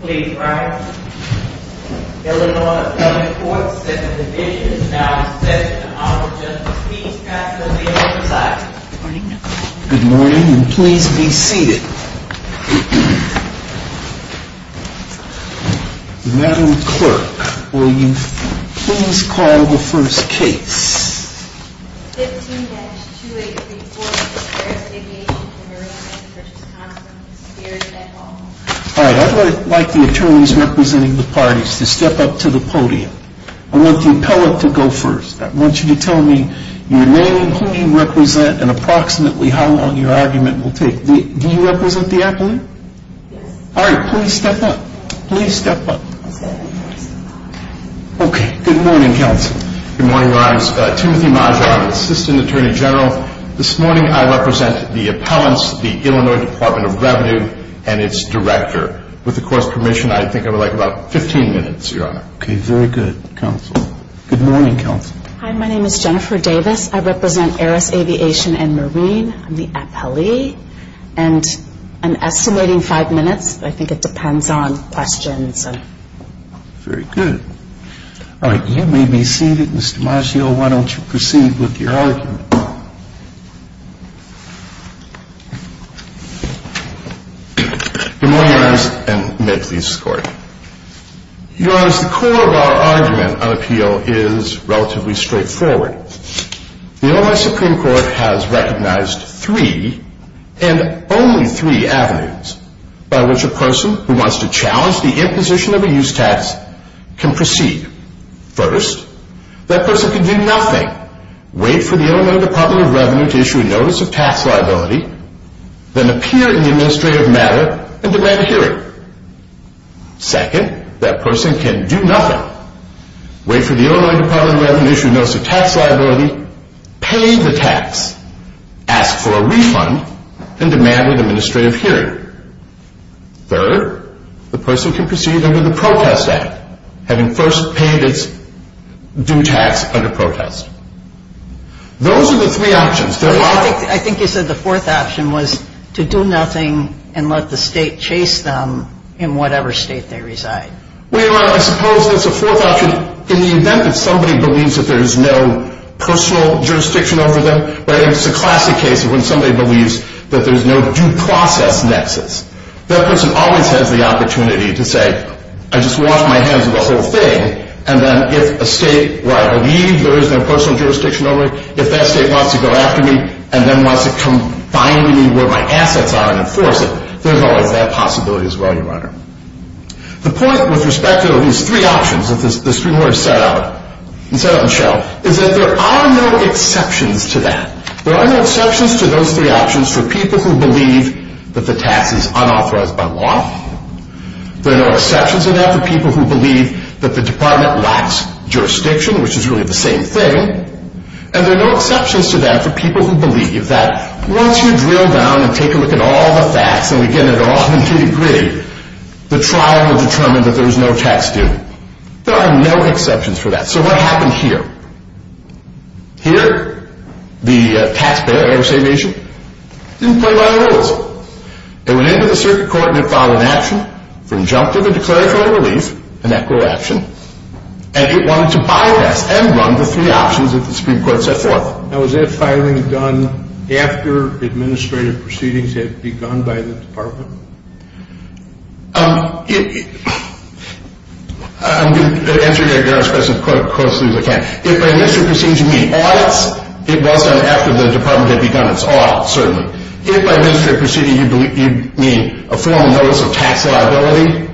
Please rise. Illinois Appellate Court, Second Division, is now in session. Honorable Justice, please pass the ball to the side. Good morning, and please be seated. Madam Clerk, will you please call the first case? 15-2834, the Harris Aviation & Marine, Inc. v. Consul, v. Beard, et al. All right, I would like the attorneys representing the parties to step up to the podium. I want the appellate to go first. I want you to tell me your name, who you represent, and approximately how long your argument will take. Do you represent the appellate? Yes. All right, please step up. Please step up. Okay, good morning, Counsel. Good morning, Your Honors. Timothy Maggio, Assistant Attorney General. This morning I represent the appellants, the Illinois Department of Revenue, and its director. With the Court's permission, I think I would like about 15 minutes, Your Honor. Okay, very good, Counsel. Good morning, Counsel. Hi, my name is Jennifer Davis. I represent Harris Aviation & Marine. I'm the appellee, and an estimating five minutes. I think it depends on questions. Very good. All right, you may be seated. Mr. Maggio, why don't you proceed with your argument. Good morning, Your Honors, and may it please the Court. Your Honors, the core of our argument on appeal is relatively straightforward. The Illinois Supreme Court has recognized three, and only three, avenues by which a person who wants to challenge the imposition of a use tax can proceed. First, that person can do nothing, wait for the Illinois Department of Revenue to issue a notice of tax liability, then appear in the administrative matter and demand a hearing. Second, that person can do nothing, wait for the Illinois Department of Revenue to issue a notice of tax liability, pay the tax, ask for a refund, and demand an administrative hearing. Third, the person can proceed under the Protest Act, having first paid its due tax under protest. Those are the three options. I think you said the fourth option was to do nothing and let the state chase them in whatever state they reside. Well, Your Honor, I suppose that's a fourth option in the event that somebody believes that there is no personal jurisdiction over them, but it's a classic case of when somebody believes that there's no due process nexus. That person always has the opportunity to say, I just wash my hands of the whole thing, and then if a state where I believe there is no personal jurisdiction over it, if that state wants to go after me and then wants to come find me where my assets are and enforce it, there's always that possibility as well, Your Honor. The point with respect to these three options that the Supreme Court has set out and showed is that there are no exceptions to that. There are no exceptions to those three options for people who believe that the tax is unauthorized by law. There are no exceptions to that for people who believe that the Department lacks jurisdiction, which is really the same thing. And there are no exceptions to that for people who believe that once you drill down and take a look at all the facts, and we get it all to a degree, the trial will determine that there is no tax due. There are no exceptions for that. So what happened here? Here, the taxpayer, Air Saviation, didn't play by the rules. It went into the circuit court and it filed an action from injunctive and declaratory relief, an equitable action, and it wanted to bypass and run the three options that the Supreme Court set forth. Now, was that filing done after administrative proceedings had begun by the Department? I'm going to answer your question as closely as I can. If by administrative proceedings you mean audits, it was done after the Department had begun its audit, certainly. If by administrative proceedings you mean a formal notice of tax liability,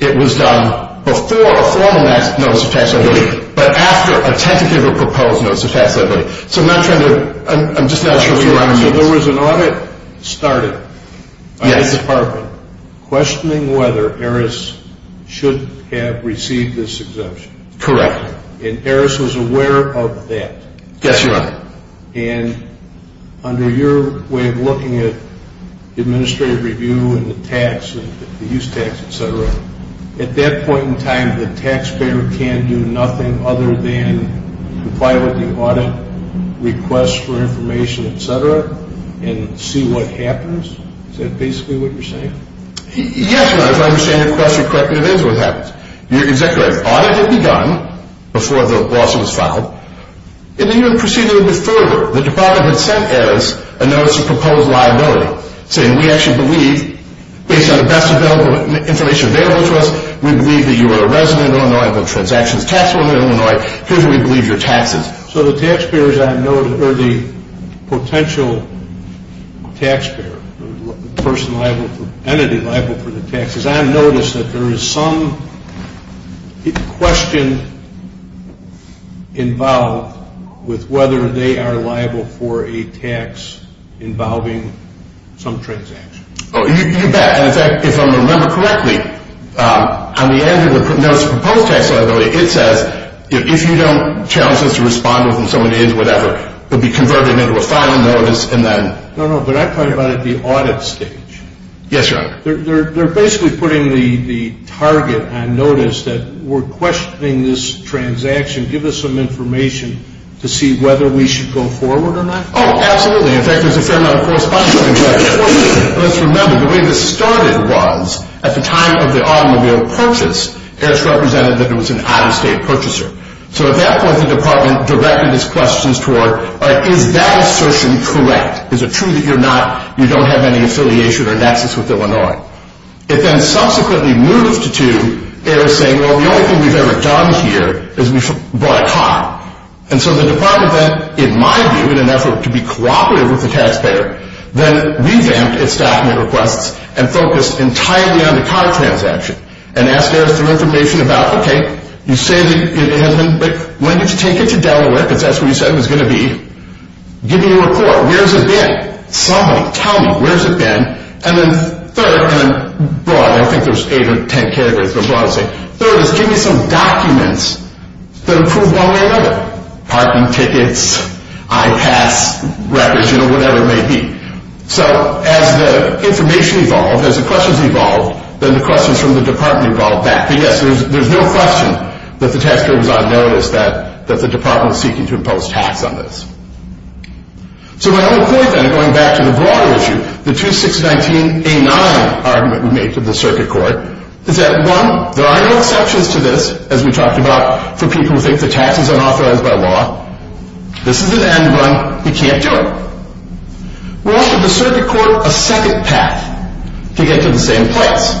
it was done before a formal notice of tax liability, but after a tentative or proposed notice of tax liability. So I'm not trying to – I'm just not sure what you're asking me. So there was an audit started by the Department, questioning whether ERIS should have received this exemption. Correct. And ERIS was aware of that. Yes, Your Honor. And under your way of looking at administrative review and the tax, the use tax, et cetera, at that point in time the taxpayer can do nothing other than comply with the audit, request for information, et cetera, and see what happens? Is that basically what you're saying? Yes, Your Honor. If I understand your question correctly, it is what happens. Your Executive Audit had begun before the lawsuit was filed, and then you would proceed a little bit further. The Department had sent us a notice of proposed liability, saying we actually believe, based on the best information available to us, we believe that you are a resident Illinois, have transactions taxable in Illinois, here's what we believe your tax is. So the potential taxpayer, the entity liable for the tax, is on notice that there is some question involved with whether they are liable for a tax involving some transaction. You bet. And, in fact, if I remember correctly, on the end of the notice of proposed tax liability, it says if you don't challenge us to respond within so many days or whatever, we'll be converting it into a final notice and then... No, no, but I'm talking about at the audit stage. Yes, Your Honor. They're basically putting the target on notice that we're questioning this transaction. Give us some information to see whether we should go forward or not. Oh, absolutely. In fact, there's a fair amount of correspondence on that. Let's remember, the way this started was, at the time of the automobile purchase, AERS represented that it was an out-of-state purchaser. So at that point, the Department directed its questions toward, is that assertion correct? Is it true that you're not, you don't have any affiliation or nexus with Illinois? It then subsequently moved to AERS saying, well, the only thing we've ever done here is we bought a car. And so the Department then, in my view, in an effort to be cooperative with the taxpayer, then revamped its document requests and focused entirely on the car transaction and asked AERS for information about, okay, you say that it has been, but when did you take it to Delaware because that's where you said it was going to be? Give me a report. Where's it been? Somebody tell me, where's it been? And then third, and then broad, I think there's eight or ten categories, but broad I'd say, third is give me some documents that prove one way or another. Parking tickets, I-pass records, you know, whatever it may be. So as the information evolved, as the questions evolved, then the questions from the Department evolved back. But yes, there's no question that the taxpayer was on notice that the Department was seeking to impose tax on this. So my whole point then, going back to the broader issue, the 2619A9 argument we made to the Circuit Court is that, one, there are no exceptions to this, as we talked about, for people who think that tax is unauthorized by law. This is an end run. We can't do it. We offered the Circuit Court a second path to get to the same place.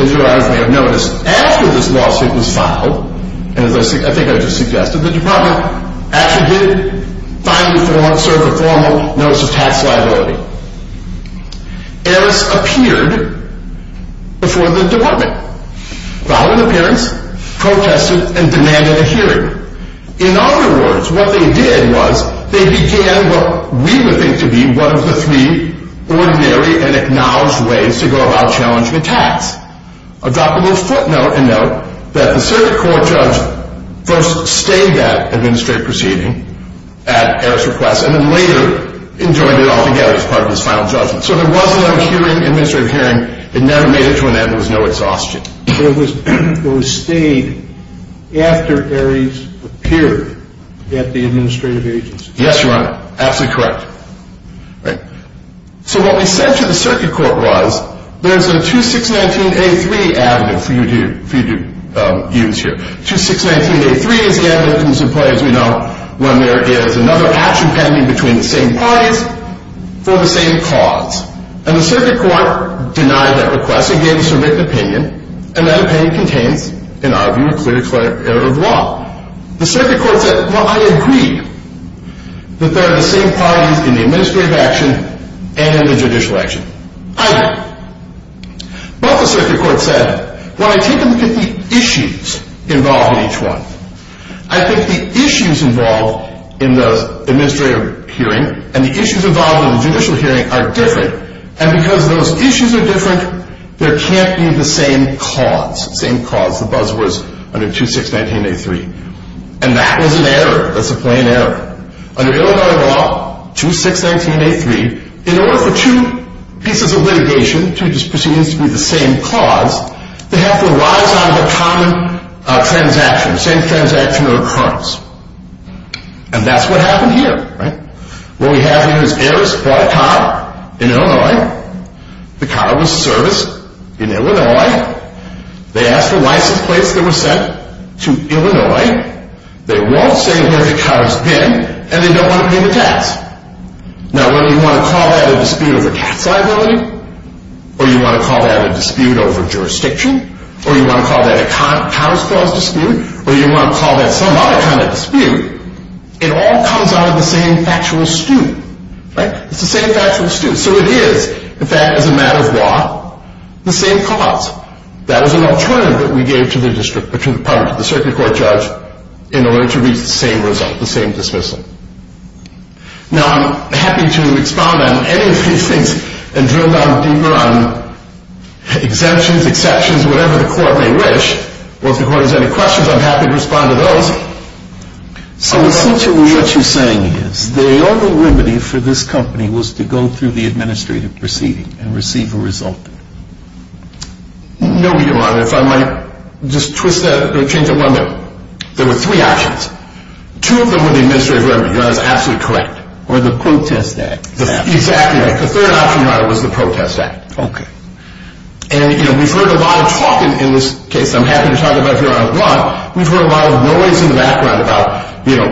As you obviously have noticed, after this lawsuit was filed, and as I think I just suggested, the Department actually did finally form, serve a formal notice of tax liability. Eris appeared before the Department, filed an appearance, protested, and demanded a hearing. In other words, what they did was they began what we would think to be one of the three ordinary and acknowledged ways to go about challenging the tax. I'll drop a little footnote and note that the Circuit Court judge and then later enjoined it altogether as part of his final judgment. So there was no hearing, administrative hearing. It never made it to an end. There was no exhaustion. It was stayed after Eris appeared at the administrative agency. Yes, Your Honor. Absolutely correct. So what we said to the Circuit Court was, there's a 2619A3 avenue for you to use here. 2619A3 is the avenue that comes into play, as we know, when there is another action pending between the same parties for the same cause. And the Circuit Court denied that request and gave us a written opinion. And that opinion contains, in our view, a clear error of law. The Circuit Court said, well, I agree that there are the same parties in the administrative action and in the judicial action. I do. But the Circuit Court said, well, I take a look at the issues involved in each one. I think the issues involved in the administrative hearing and the issues involved in the judicial hearing are different. And because those issues are different, there can't be the same cause. Same cause, the buzzwords under 2619A3. And that was an error. That's a plain error. Under Illinois law, 2619A3, in order for two pieces of litigation, two proceedings to be the same cause, they have to arise out of a common transaction, same transaction or occurrence. And that's what happened here. What we have here is, heirs bought a car in Illinois. The car was serviced in Illinois. They asked for license plates that were sent to Illinois. They won't say where the car has been. And they don't want to pay the tax. Now, whether you want to call that a dispute over tax liability or you want to call that a dispute over jurisdiction or you want to call that a cars clause dispute or you want to call that some other kind of dispute, it all comes out of the same factual stew. It's the same factual stew. So it is, in fact, as a matter of law, the same cause. That was an alternative that we gave to the district or to the circuit court judge in order to reach the same result, the same dismissal. Now, I'm happy to expound on any of these things and drill down deeper on exemptions, exceptions, whatever the court may wish. Once the court has any questions, I'm happy to respond to those. So essentially what you're saying is, the only remedy for this company was to go through the administrative proceeding and receive a result. No, Your Honor. If I might just twist that or change it one bit. There were three options. Two of them were the administrative remedy. Your Honor, that's absolutely correct. Or the protest act. Exactly right. The third option, Your Honor, was the protest act. Okay. And, you know, we've heard a lot of talk in this case, and I'm happy to talk about it if you want. We've heard a lot of noise in the background about, you know,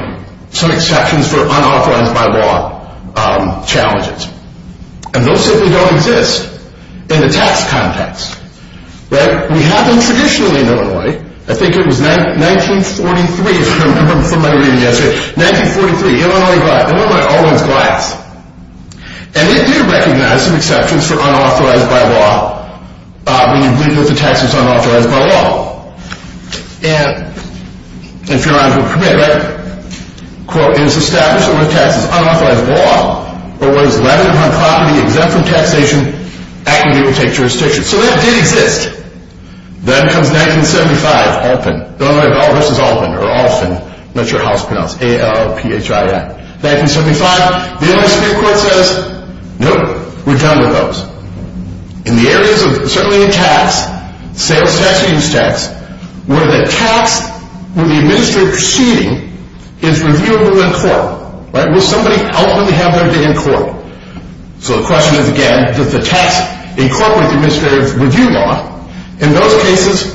some exceptions for unauthorized by law challenges. And those simply don't exist in the tax context. Right? We have them traditionally in Illinois. I think it was 1943, if I remember from my reading yesterday. 1943, Illinois always glides. And they do recognize some exceptions for unauthorized by law when you believe that the tax is unauthorized by law. And if Your Honor can permit, right, quote, it is established that when a tax is unauthorized by law, or when it is landed upon property, exempt from taxation, activity will take jurisdiction. So that did exist. Then comes 1975, Alpin. Illinois versus Alpin, or Alphin. I'm not sure how it's pronounced. A-L-O-P-H-I-N. 1975, the Illinois Supreme Court says, nope, we're done with those. In the areas of, certainly in tax, sales tax and use tax, where the tax with the administrative proceeding is reviewable in court. Right? Will somebody ultimately have their day in court? So the question is, again, does the tax incorporate the administrative review law? In those cases,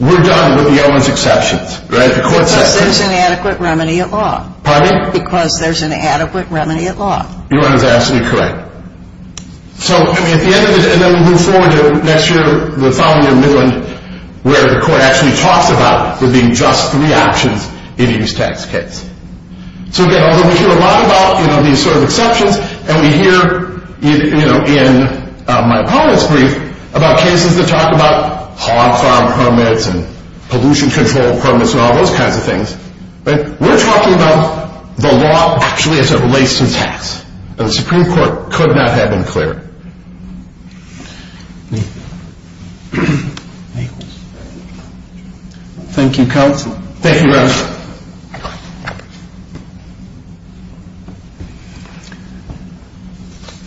we're done with the Illinois exceptions. Right? Because there's an adequate remedy at law. Pardon me? Because there's an adequate remedy at law. Your Honor is absolutely correct. So, I mean, at the end of it, and then we move forward to next year, the following year, Midland, where the court actually talks about there being just three options in a use tax case. So, again, although we hear a lot about, you know, these sort of exceptions, and we hear, you know, in my opponent's brief, about cases that talk about hog farm permits and pollution control permits and all those kinds of things. Right? We're talking about the law actually as it relates to tax. And the Supreme Court could not have been clearer. Thank you. Thank you. Thank you, Counsel. Thank you, Your Honor.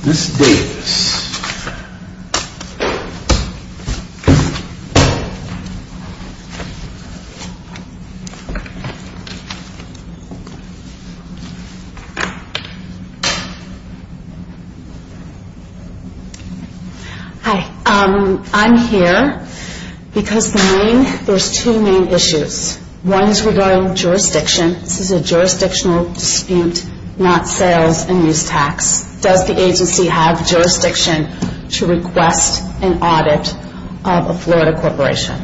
Ms. Davis. Hi. I'm here because there's two main issues. One is regarding jurisdiction. This is a jurisdictional dispute, not sales and use tax. Does the agency have jurisdiction to request an audit of a Florida corporation?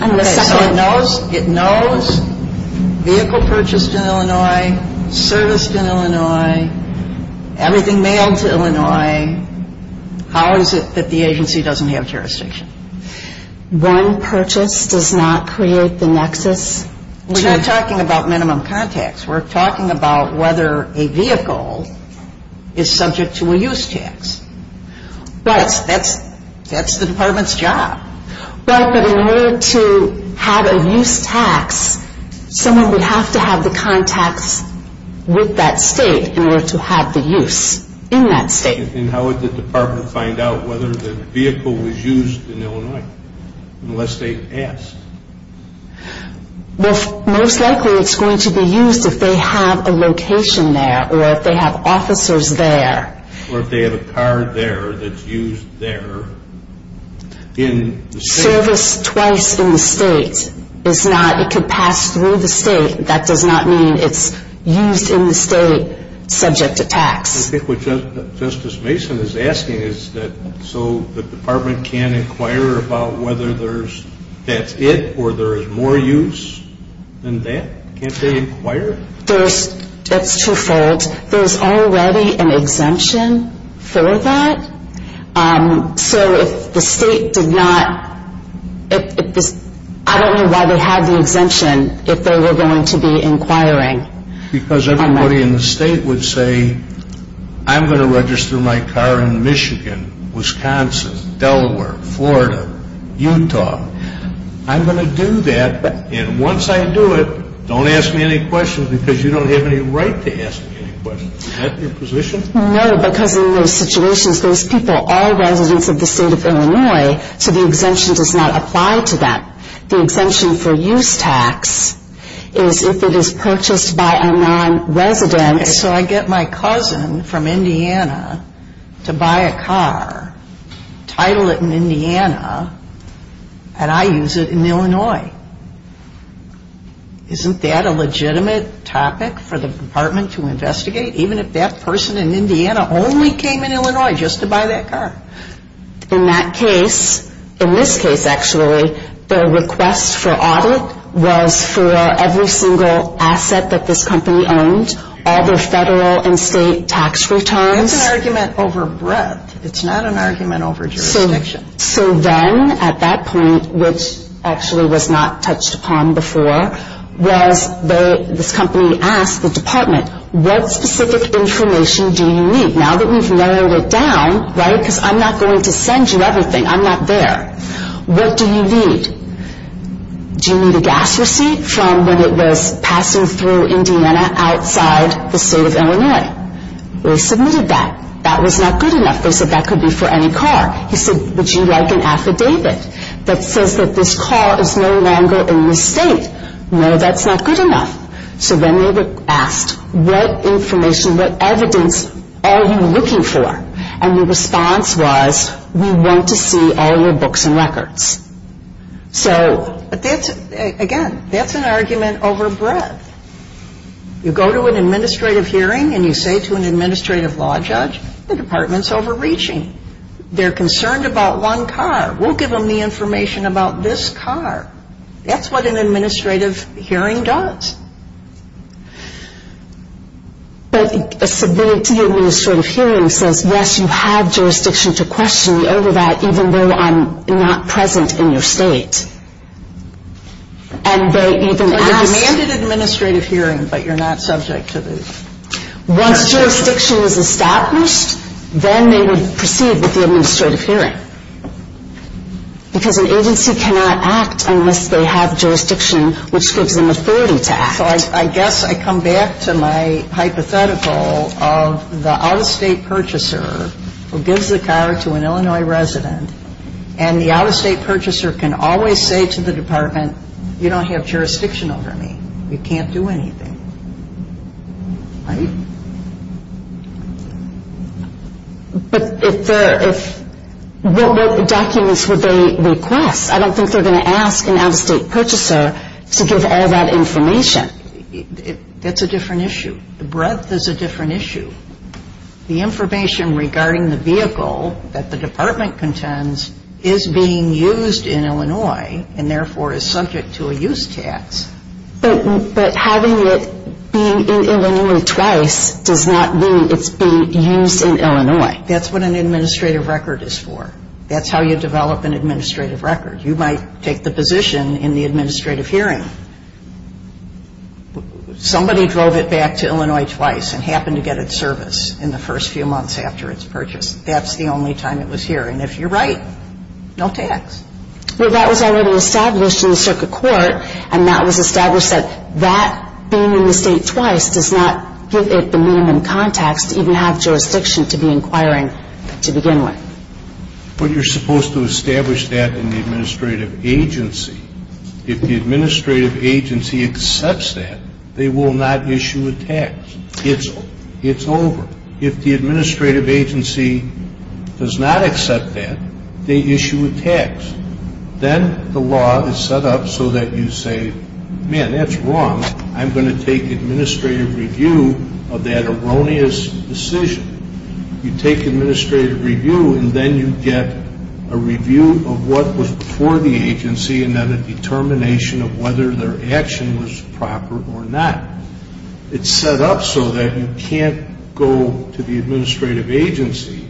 And the second... Okay, so it knows vehicle purchased in Illinois, serviced in Illinois, everything mailed to Illinois. How is it that the agency doesn't have jurisdiction? One purchase does not create the nexus. We're not talking about minimum contacts. We're talking about whether a vehicle is subject to a use tax. That's the department's job. Right, but in order to have a use tax, someone would have to have the contacts with that state in order to have the use in that state. And how would the department find out whether the vehicle was used in Illinois unless they asked? Well, most likely it's going to be used if they have a location there or if they have officers there. Or if they have a car there that's used there in the state. If it's serviced twice in the state, it could pass through the state. That does not mean it's used in the state subject to tax. I think what Justice Mason is asking is that so the department can inquire about whether that's it or there is more use than that? Can't they inquire? That's twofold. There's already an exemption for that. So if the state did not, I don't know why they had the exemption if they were going to be inquiring. Because everybody in the state would say, I'm going to register my car in Michigan, Wisconsin, Delaware, Florida, Utah. I'm going to do that, and once I do it, don't ask me any questions because you don't have any right to ask me any questions. Is that your position? No, because in those situations, those people are residents of the state of Illinois, so the exemption does not apply to that. The exemption for use tax is if it is purchased by a nonresident. So I get my cousin from Indiana to buy a car, title it in Indiana, and I use it in Illinois. Isn't that a legitimate topic for the department to investigate? Even if that person in Indiana only came in Illinois just to buy that car. In that case, in this case actually, the request for audit was for every single asset that this company owned, all their federal and state tax returns. That's an argument over breadth. It's not an argument over jurisdiction. So then at that point, which actually was not touched upon before, this company asked the department, what specific information do you need? Now that we've narrowed it down, right, because I'm not going to send you everything. I'm not there. What do you need? Do you need a gas receipt from when it was passing through Indiana outside the state of Illinois? They submitted that. That was not good enough. They said that could be for any car. He said, would you like an affidavit that says that this car is no longer in the state? No, that's not good enough. So then they asked, what information, what evidence are you looking for? And the response was, we want to see all your books and records. So again, that's an argument over breadth. You go to an administrative hearing and you say to an administrative law judge, the department's overreaching. They're concerned about one car. We'll give them the information about this car. That's what an administrative hearing does. But a civility administrative hearing says, yes, you have jurisdiction to question me over that, even though I'm not present in your state. And they even asked you. But you're demanded an administrative hearing, but you're not subject to the jurisdiction. If jurisdiction was established, then they would proceed with the administrative hearing. Because an agency cannot act unless they have jurisdiction, which gives them authority to act. So I guess I come back to my hypothetical of the out-of-state purchaser who gives the car to an Illinois resident, and the out-of-state purchaser can always say to the department, you don't have jurisdiction over me. You can't do anything. Right? But if they're – what documents would they request? I don't think they're going to ask an out-of-state purchaser to give all that information. That's a different issue. The breadth is a different issue. The information regarding the vehicle that the department contends is being used in Illinois and therefore is subject to a use tax. But having it being in Illinois twice does not mean it's being used in Illinois. That's what an administrative record is for. That's how you develop an administrative record. You might take the position in the administrative hearing. Somebody drove it back to Illinois twice and happened to get its service in the first few months after its purchase. That's the only time it was here. And if you're right, no tax. Well, that was already established in the circuit court, and that was established that that being in the state twice does not give it the minimum context to even have jurisdiction to be inquiring to begin with. But you're supposed to establish that in the administrative agency. If the administrative agency accepts that, they will not issue a tax. It's over. If the administrative agency does not accept that, they issue a tax. Then the law is set up so that you say, man, that's wrong. I'm going to take administrative review of that erroneous decision. You take administrative review and then you get a review of what was before the agency and then a determination of whether their action was proper or not. It's set up so that you can't go to the administrative agency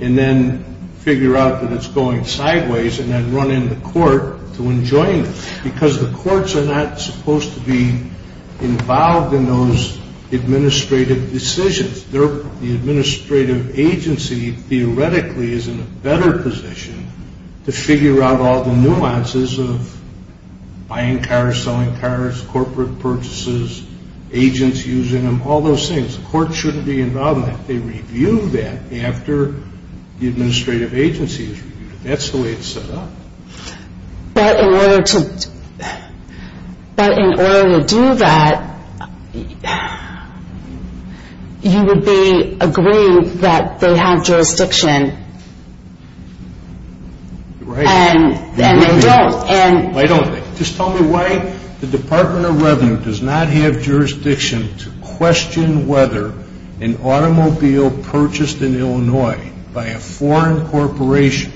and then figure out that it's going sideways and then run into court to enjoin it because the courts are not supposed to be involved in those administrative decisions. The administrative agency theoretically is in a better position to figure out all the nuances of buying cars, selling cars, corporate purchases, agents using them, all those things. The court shouldn't be involved in that. They review that after the administrative agency has reviewed it. That's the way it's set up. But in order to do that, you would agree that they have jurisdiction. Right. And they don't. Why don't they? Just tell me why the Department of Revenue does not have jurisdiction to question whether an automobile purchased in Illinois by a foreign corporation,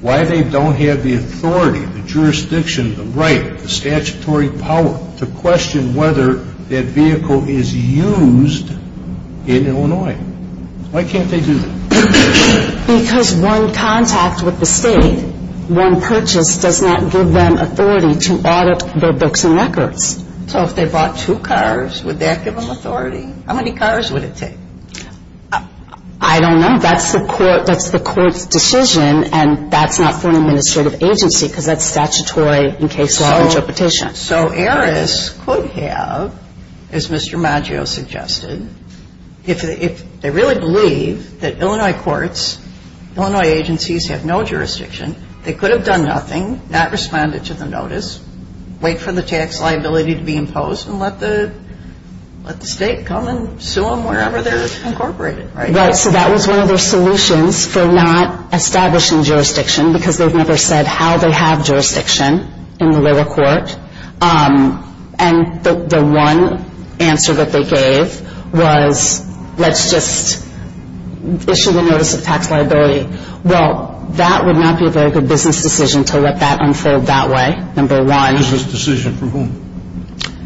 why they don't have the authority, the jurisdiction, the right, the statutory power to question whether that vehicle is used in Illinois. Why can't they do that? Because one contact with the State, one purchase, does not give them authority to audit their books and records. So if they bought two cars, would that give them authority? How many cars would it take? I don't know. That's the court's decision, and that's not for an administrative agency because that's statutory in case law interpretation. So heiress could have, as Mr. Maggio suggested, if they really believe that Illinois courts, Illinois agencies have no jurisdiction, they could have done nothing, not responded to the notice, wait for the tax liability to be imposed, and let the State come and sue them wherever they're incorporated. Right. So that was one of their solutions for not establishing jurisdiction because they've never said how they have jurisdiction in the lower court. And the one answer that they gave was let's just issue the notice of tax liability. Well, that would not be a very good business decision to let that unfold that way, number one. Business decision for whom?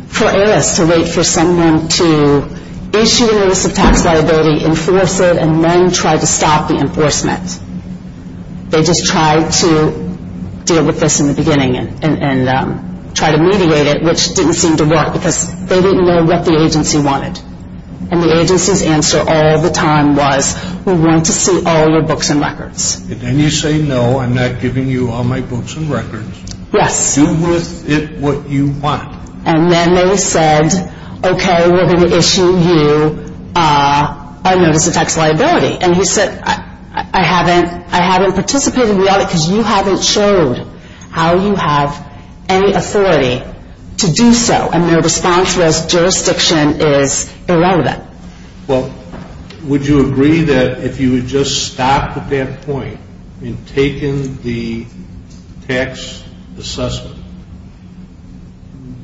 For heiress to wait for someone to issue the notice of tax liability, enforce it, and then try to stop the enforcement. They just tried to deal with this in the beginning and try to mediate it, which didn't seem to work because they didn't know what the agency wanted. And the agency's answer all the time was we want to see all your books and records. And then you say, no, I'm not giving you all my books and records. Yes. Do with it what you want. And then they said, okay, we're going to issue you a notice of tax liability. And he said, I haven't participated in the audit because you haven't showed how you have any authority to do so. And their response was jurisdiction is irrelevant. Well, would you agree that if you would just stop at that point in taking the tax assessment,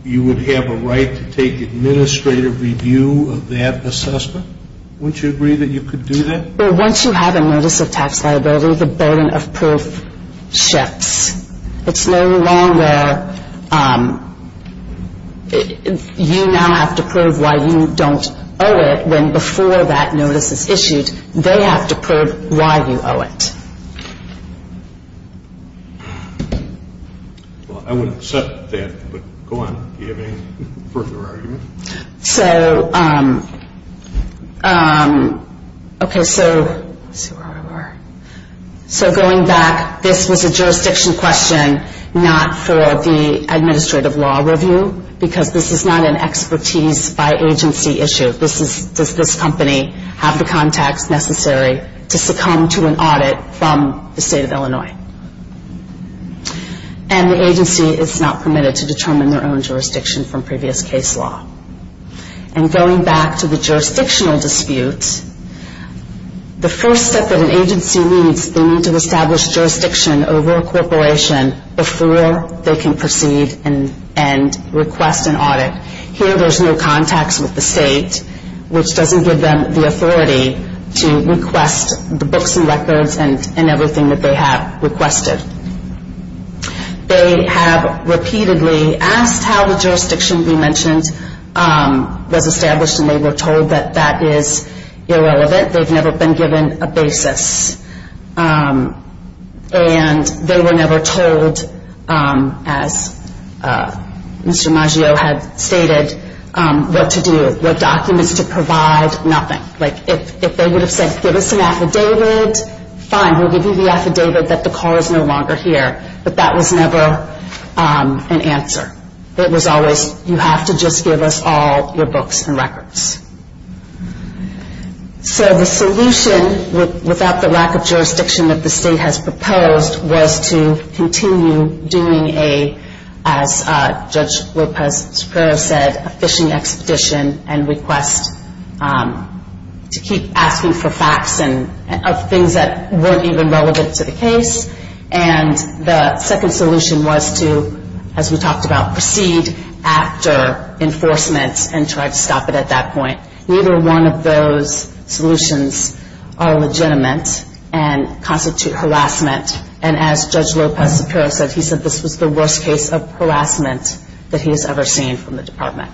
you would have a right to take administrative review of that assessment? Wouldn't you agree that you could do that? Well, once you have a notice of tax liability, the burden of proof shifts. It's no longer you now have to prove why you don't owe it when before that notice is issued they have to prove why you owe it. Well, I would accept that, but go on. Do you have any further argument? So, okay, so going back, this was a jurisdiction question not for the administrative law review because this is not an expertise by agency issue. Does this company have the context necessary to succumb to an audit from the state of Illinois? And the agency is not permitted to determine their own jurisdiction from previous case law. And going back to the jurisdictional dispute, the first step that an agency needs, they need to establish jurisdiction over a corporation before they can proceed and request an audit. Here there's no context with the state, which doesn't give them the authority to request the books and records and everything that they have requested. They have repeatedly asked how the jurisdiction we mentioned was established and they were told that that is irrelevant. They've never been given a basis. And they were never told, as Mr. Maggio had stated, what to do, what documents to provide, nothing. Like if they would have said, give us an affidavit, fine, we'll give you the affidavit that the car is no longer here. But that was never an answer. It was always, you have to just give us all your books and records. So the solution, without the lack of jurisdiction that the state has proposed, was to continue doing a, as Judge Lopez-Superio said, a fishing expedition and request to keep asking for facts of things that weren't even relevant to the case. And the second solution was to, as we talked about, proceed after enforcement and try to stop it at that point. Neither one of those solutions are legitimate and constitute harassment. And as Judge Lopez-Superio said, he said this was the worst case of harassment that he has ever seen from the department.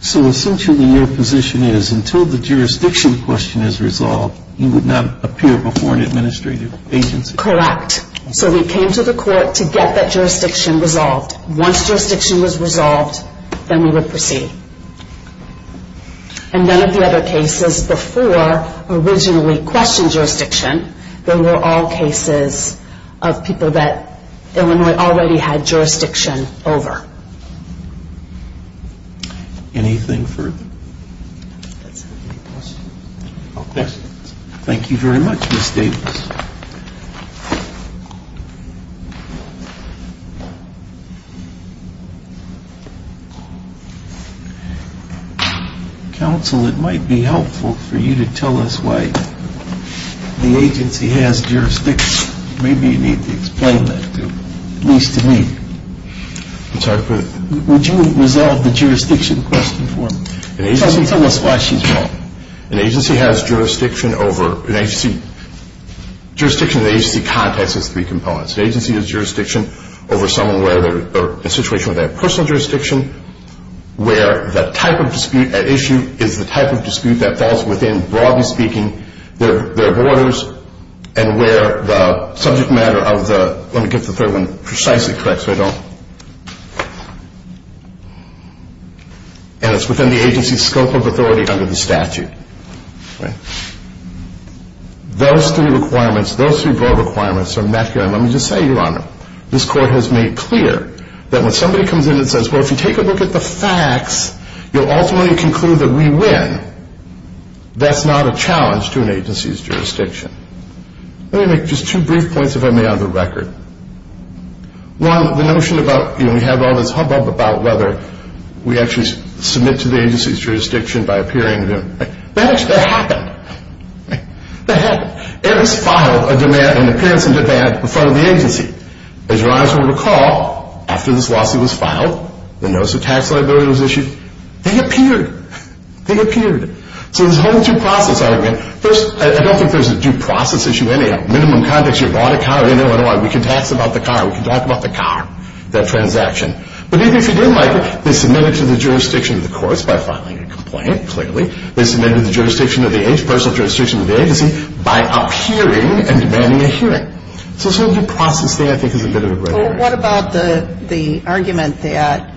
So essentially your position is until the jurisdiction question is resolved, you would not appear before an administrative agency? Correct. So we came to the court to get that jurisdiction resolved. Once jurisdiction was resolved, then we would proceed. And none of the other cases before originally questioned jurisdiction, they were all cases of people that Illinois already had jurisdiction over. Anything further? That's it. Any questions? No questions. Thank you very much, Ms. Davis. Counsel, it might be helpful for you to tell us why the agency has jurisdiction. Maybe you need to explain that to, at least to me. I'm sorry for the... Would you resolve the jurisdiction question for me? Tell us why she's wrong. An agency has jurisdiction over an agency. Jurisdiction in the agency context has three components. An agency has jurisdiction over someone in a situation where they have personal jurisdiction, where the type of dispute at issue is the type of dispute that falls within, broadly speaking, their borders, and where the subject matter of the... Precisely correct, so I don't... And it's within the agency's scope of authority under the statute. Those three requirements, those three broad requirements are met. Let me just say, Your Honor, this Court has made clear that when somebody comes in and says, well, if you take a look at the facts, you'll ultimately conclude that we win. That's not a challenge to an agency's jurisdiction. Let me make just two brief points, if I may, on the record. One, the notion about, you know, we have all this hubbub about whether we actually submit to the agency's jurisdiction by appearing to them. That actually happened. That happened. It was filed, a demand, an appearance in demand in front of the agency. As Your Honor will recall, after this lawsuit was filed, the notice of tax liability was issued. They appeared. They appeared. So this whole due process argument, first, I don't think there's a due process issue anyhow. Minimum context, you bought a car, you know, we can tax about the car, we can talk about the car, that transaction. But even if you didn't, Michael, they submitted to the jurisdiction of the courts by filing a complaint, clearly. They submitted to the jurisdiction of the agency, personal jurisdiction of the agency, by appearing and demanding a hearing. So this whole due process thing I think is a bit of a... Well, what about the argument that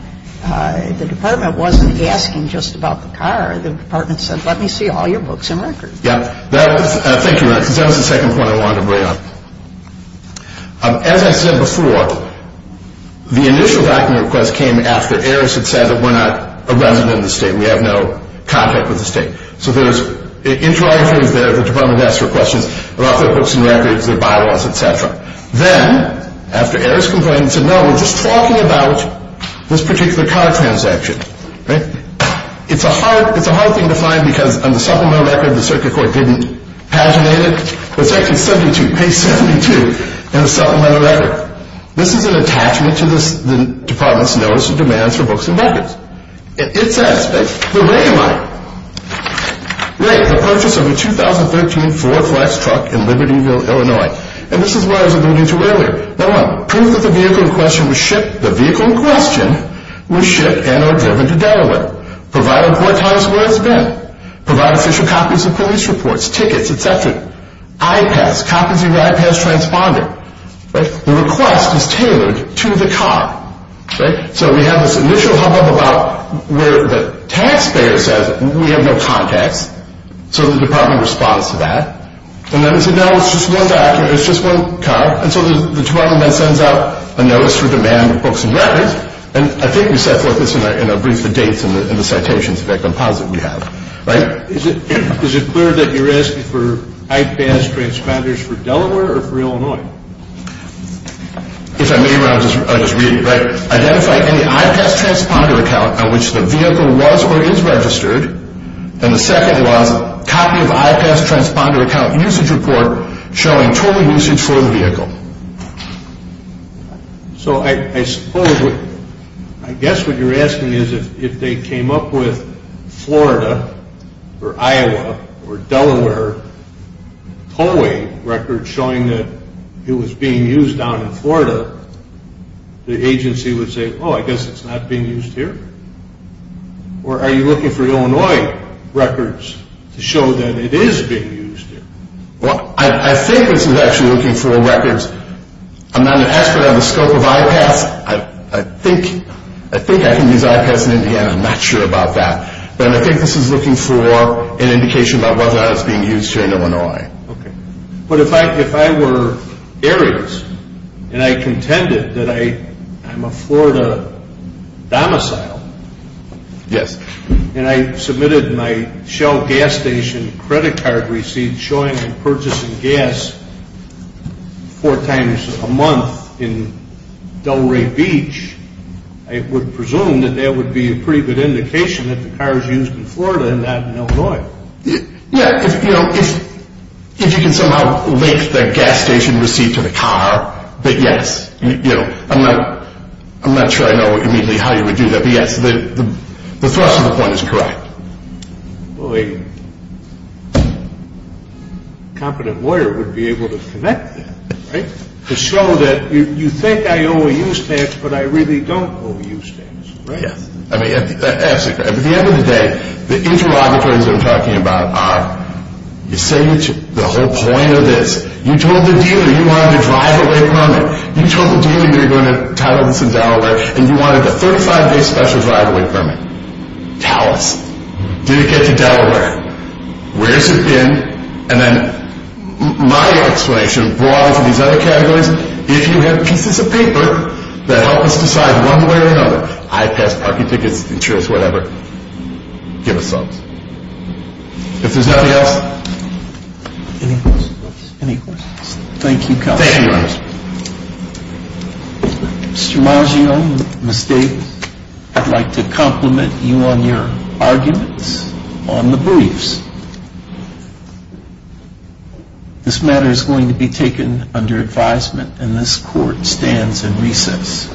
the Department wasn't asking just about the car? The Department said, let me see all your books and records. Yeah. Thank you, Your Honor, because that was the second point I wanted to bring up. As I said before, the initial document request came after Eris had said that we're not a resident of the State and we have no contact with the State. So there was interrogations there, the Department asked her questions about their books and records, their bylaws, et cetera. Then, after Eris complained and said, no, we're just talking about this particular car transaction. It's a hard thing to find because on the supplemental record, the circuit court didn't paginate it. It's actually 72, page 72 in the supplemental record. This is an attachment to the Department's notice of demands for books and records. It says, the rate of purchase of a 2013 Ford Flex truck in Libertyville, Illinois. And this is what I was alluding to earlier. Proof that the vehicle in question was shipped and are driven to Delaware. Provide a report on where it's been. Provide official copies of police reports, tickets, et cetera. I-pass, copies of your I-pass transponder. The request is tailored to the car. So we have this initial hubbub about where the taxpayer says we have no contacts. So the Department responds to that. And then it said, no, it's just one document, it's just one car. And so the Department then sends out a notice for demand of books and records. And I think we set forth this in a brief, the dates and the citations of that composite we have. Is it clear that you're asking for I-pass transponders for Delaware or for Illinois? If I may, I'll just read it. Identify any I-pass transponder account on which the vehicle was or is registered. And the second was a copy of I-pass transponder account usage report showing total usage for the vehicle. So I suppose, I guess what you're asking is if they came up with Florida or Iowa or Delaware tollway records showing that it was being used down in Florida, the agency would say, oh, I guess it's not being used here. Or are you looking for Illinois records to show that it is being used here? Well, I think this is actually looking for records. I'm not an expert on the scope of I-pass. I think I can use I-pass in Indiana. I'm not sure about that. But I think this is looking for an indication about whether or not it's being used here in Illinois. But if I were Arias and I contended that I'm a Florida domicile, and I submitted my Shell gas station credit card receipt showing I'm purchasing gas four times a month in Delray Beach, I would presume that that would be a pretty good indication that the car is used in Florida and not in Illinois. Yeah, if you can somehow link the gas station receipt to the car, then yes. I'm not sure I know immediately how you would do that. But yes, the thrust of the point is correct. Well, a competent lawyer would be able to connect that, right, to show that you think I owe a use tax, but I really don't owe a use tax, right? Yes. I mean, absolutely. At the end of the day, the interrogatories I'm talking about are you say the whole point of this, you told the dealer you wanted a drive-away permit, you told the dealer you were going to title this in Delaware, and you wanted a 35-day special drive-away permit. Tell us, did it get to Delaware? Where's it been? And then my explanation, broadly for these other categories, if you have pieces of paper that help us decide one way or another, I pass parking tickets, insurance, whatever, give us some. If there's nobody else, any questions? Thank you, Counselor. Thank you, Your Honor. Mr. Maggio, Ms. Davis, I'd like to compliment you on your arguments on the briefs. This matter is going to be taken under advisement, and this Court stands in recess.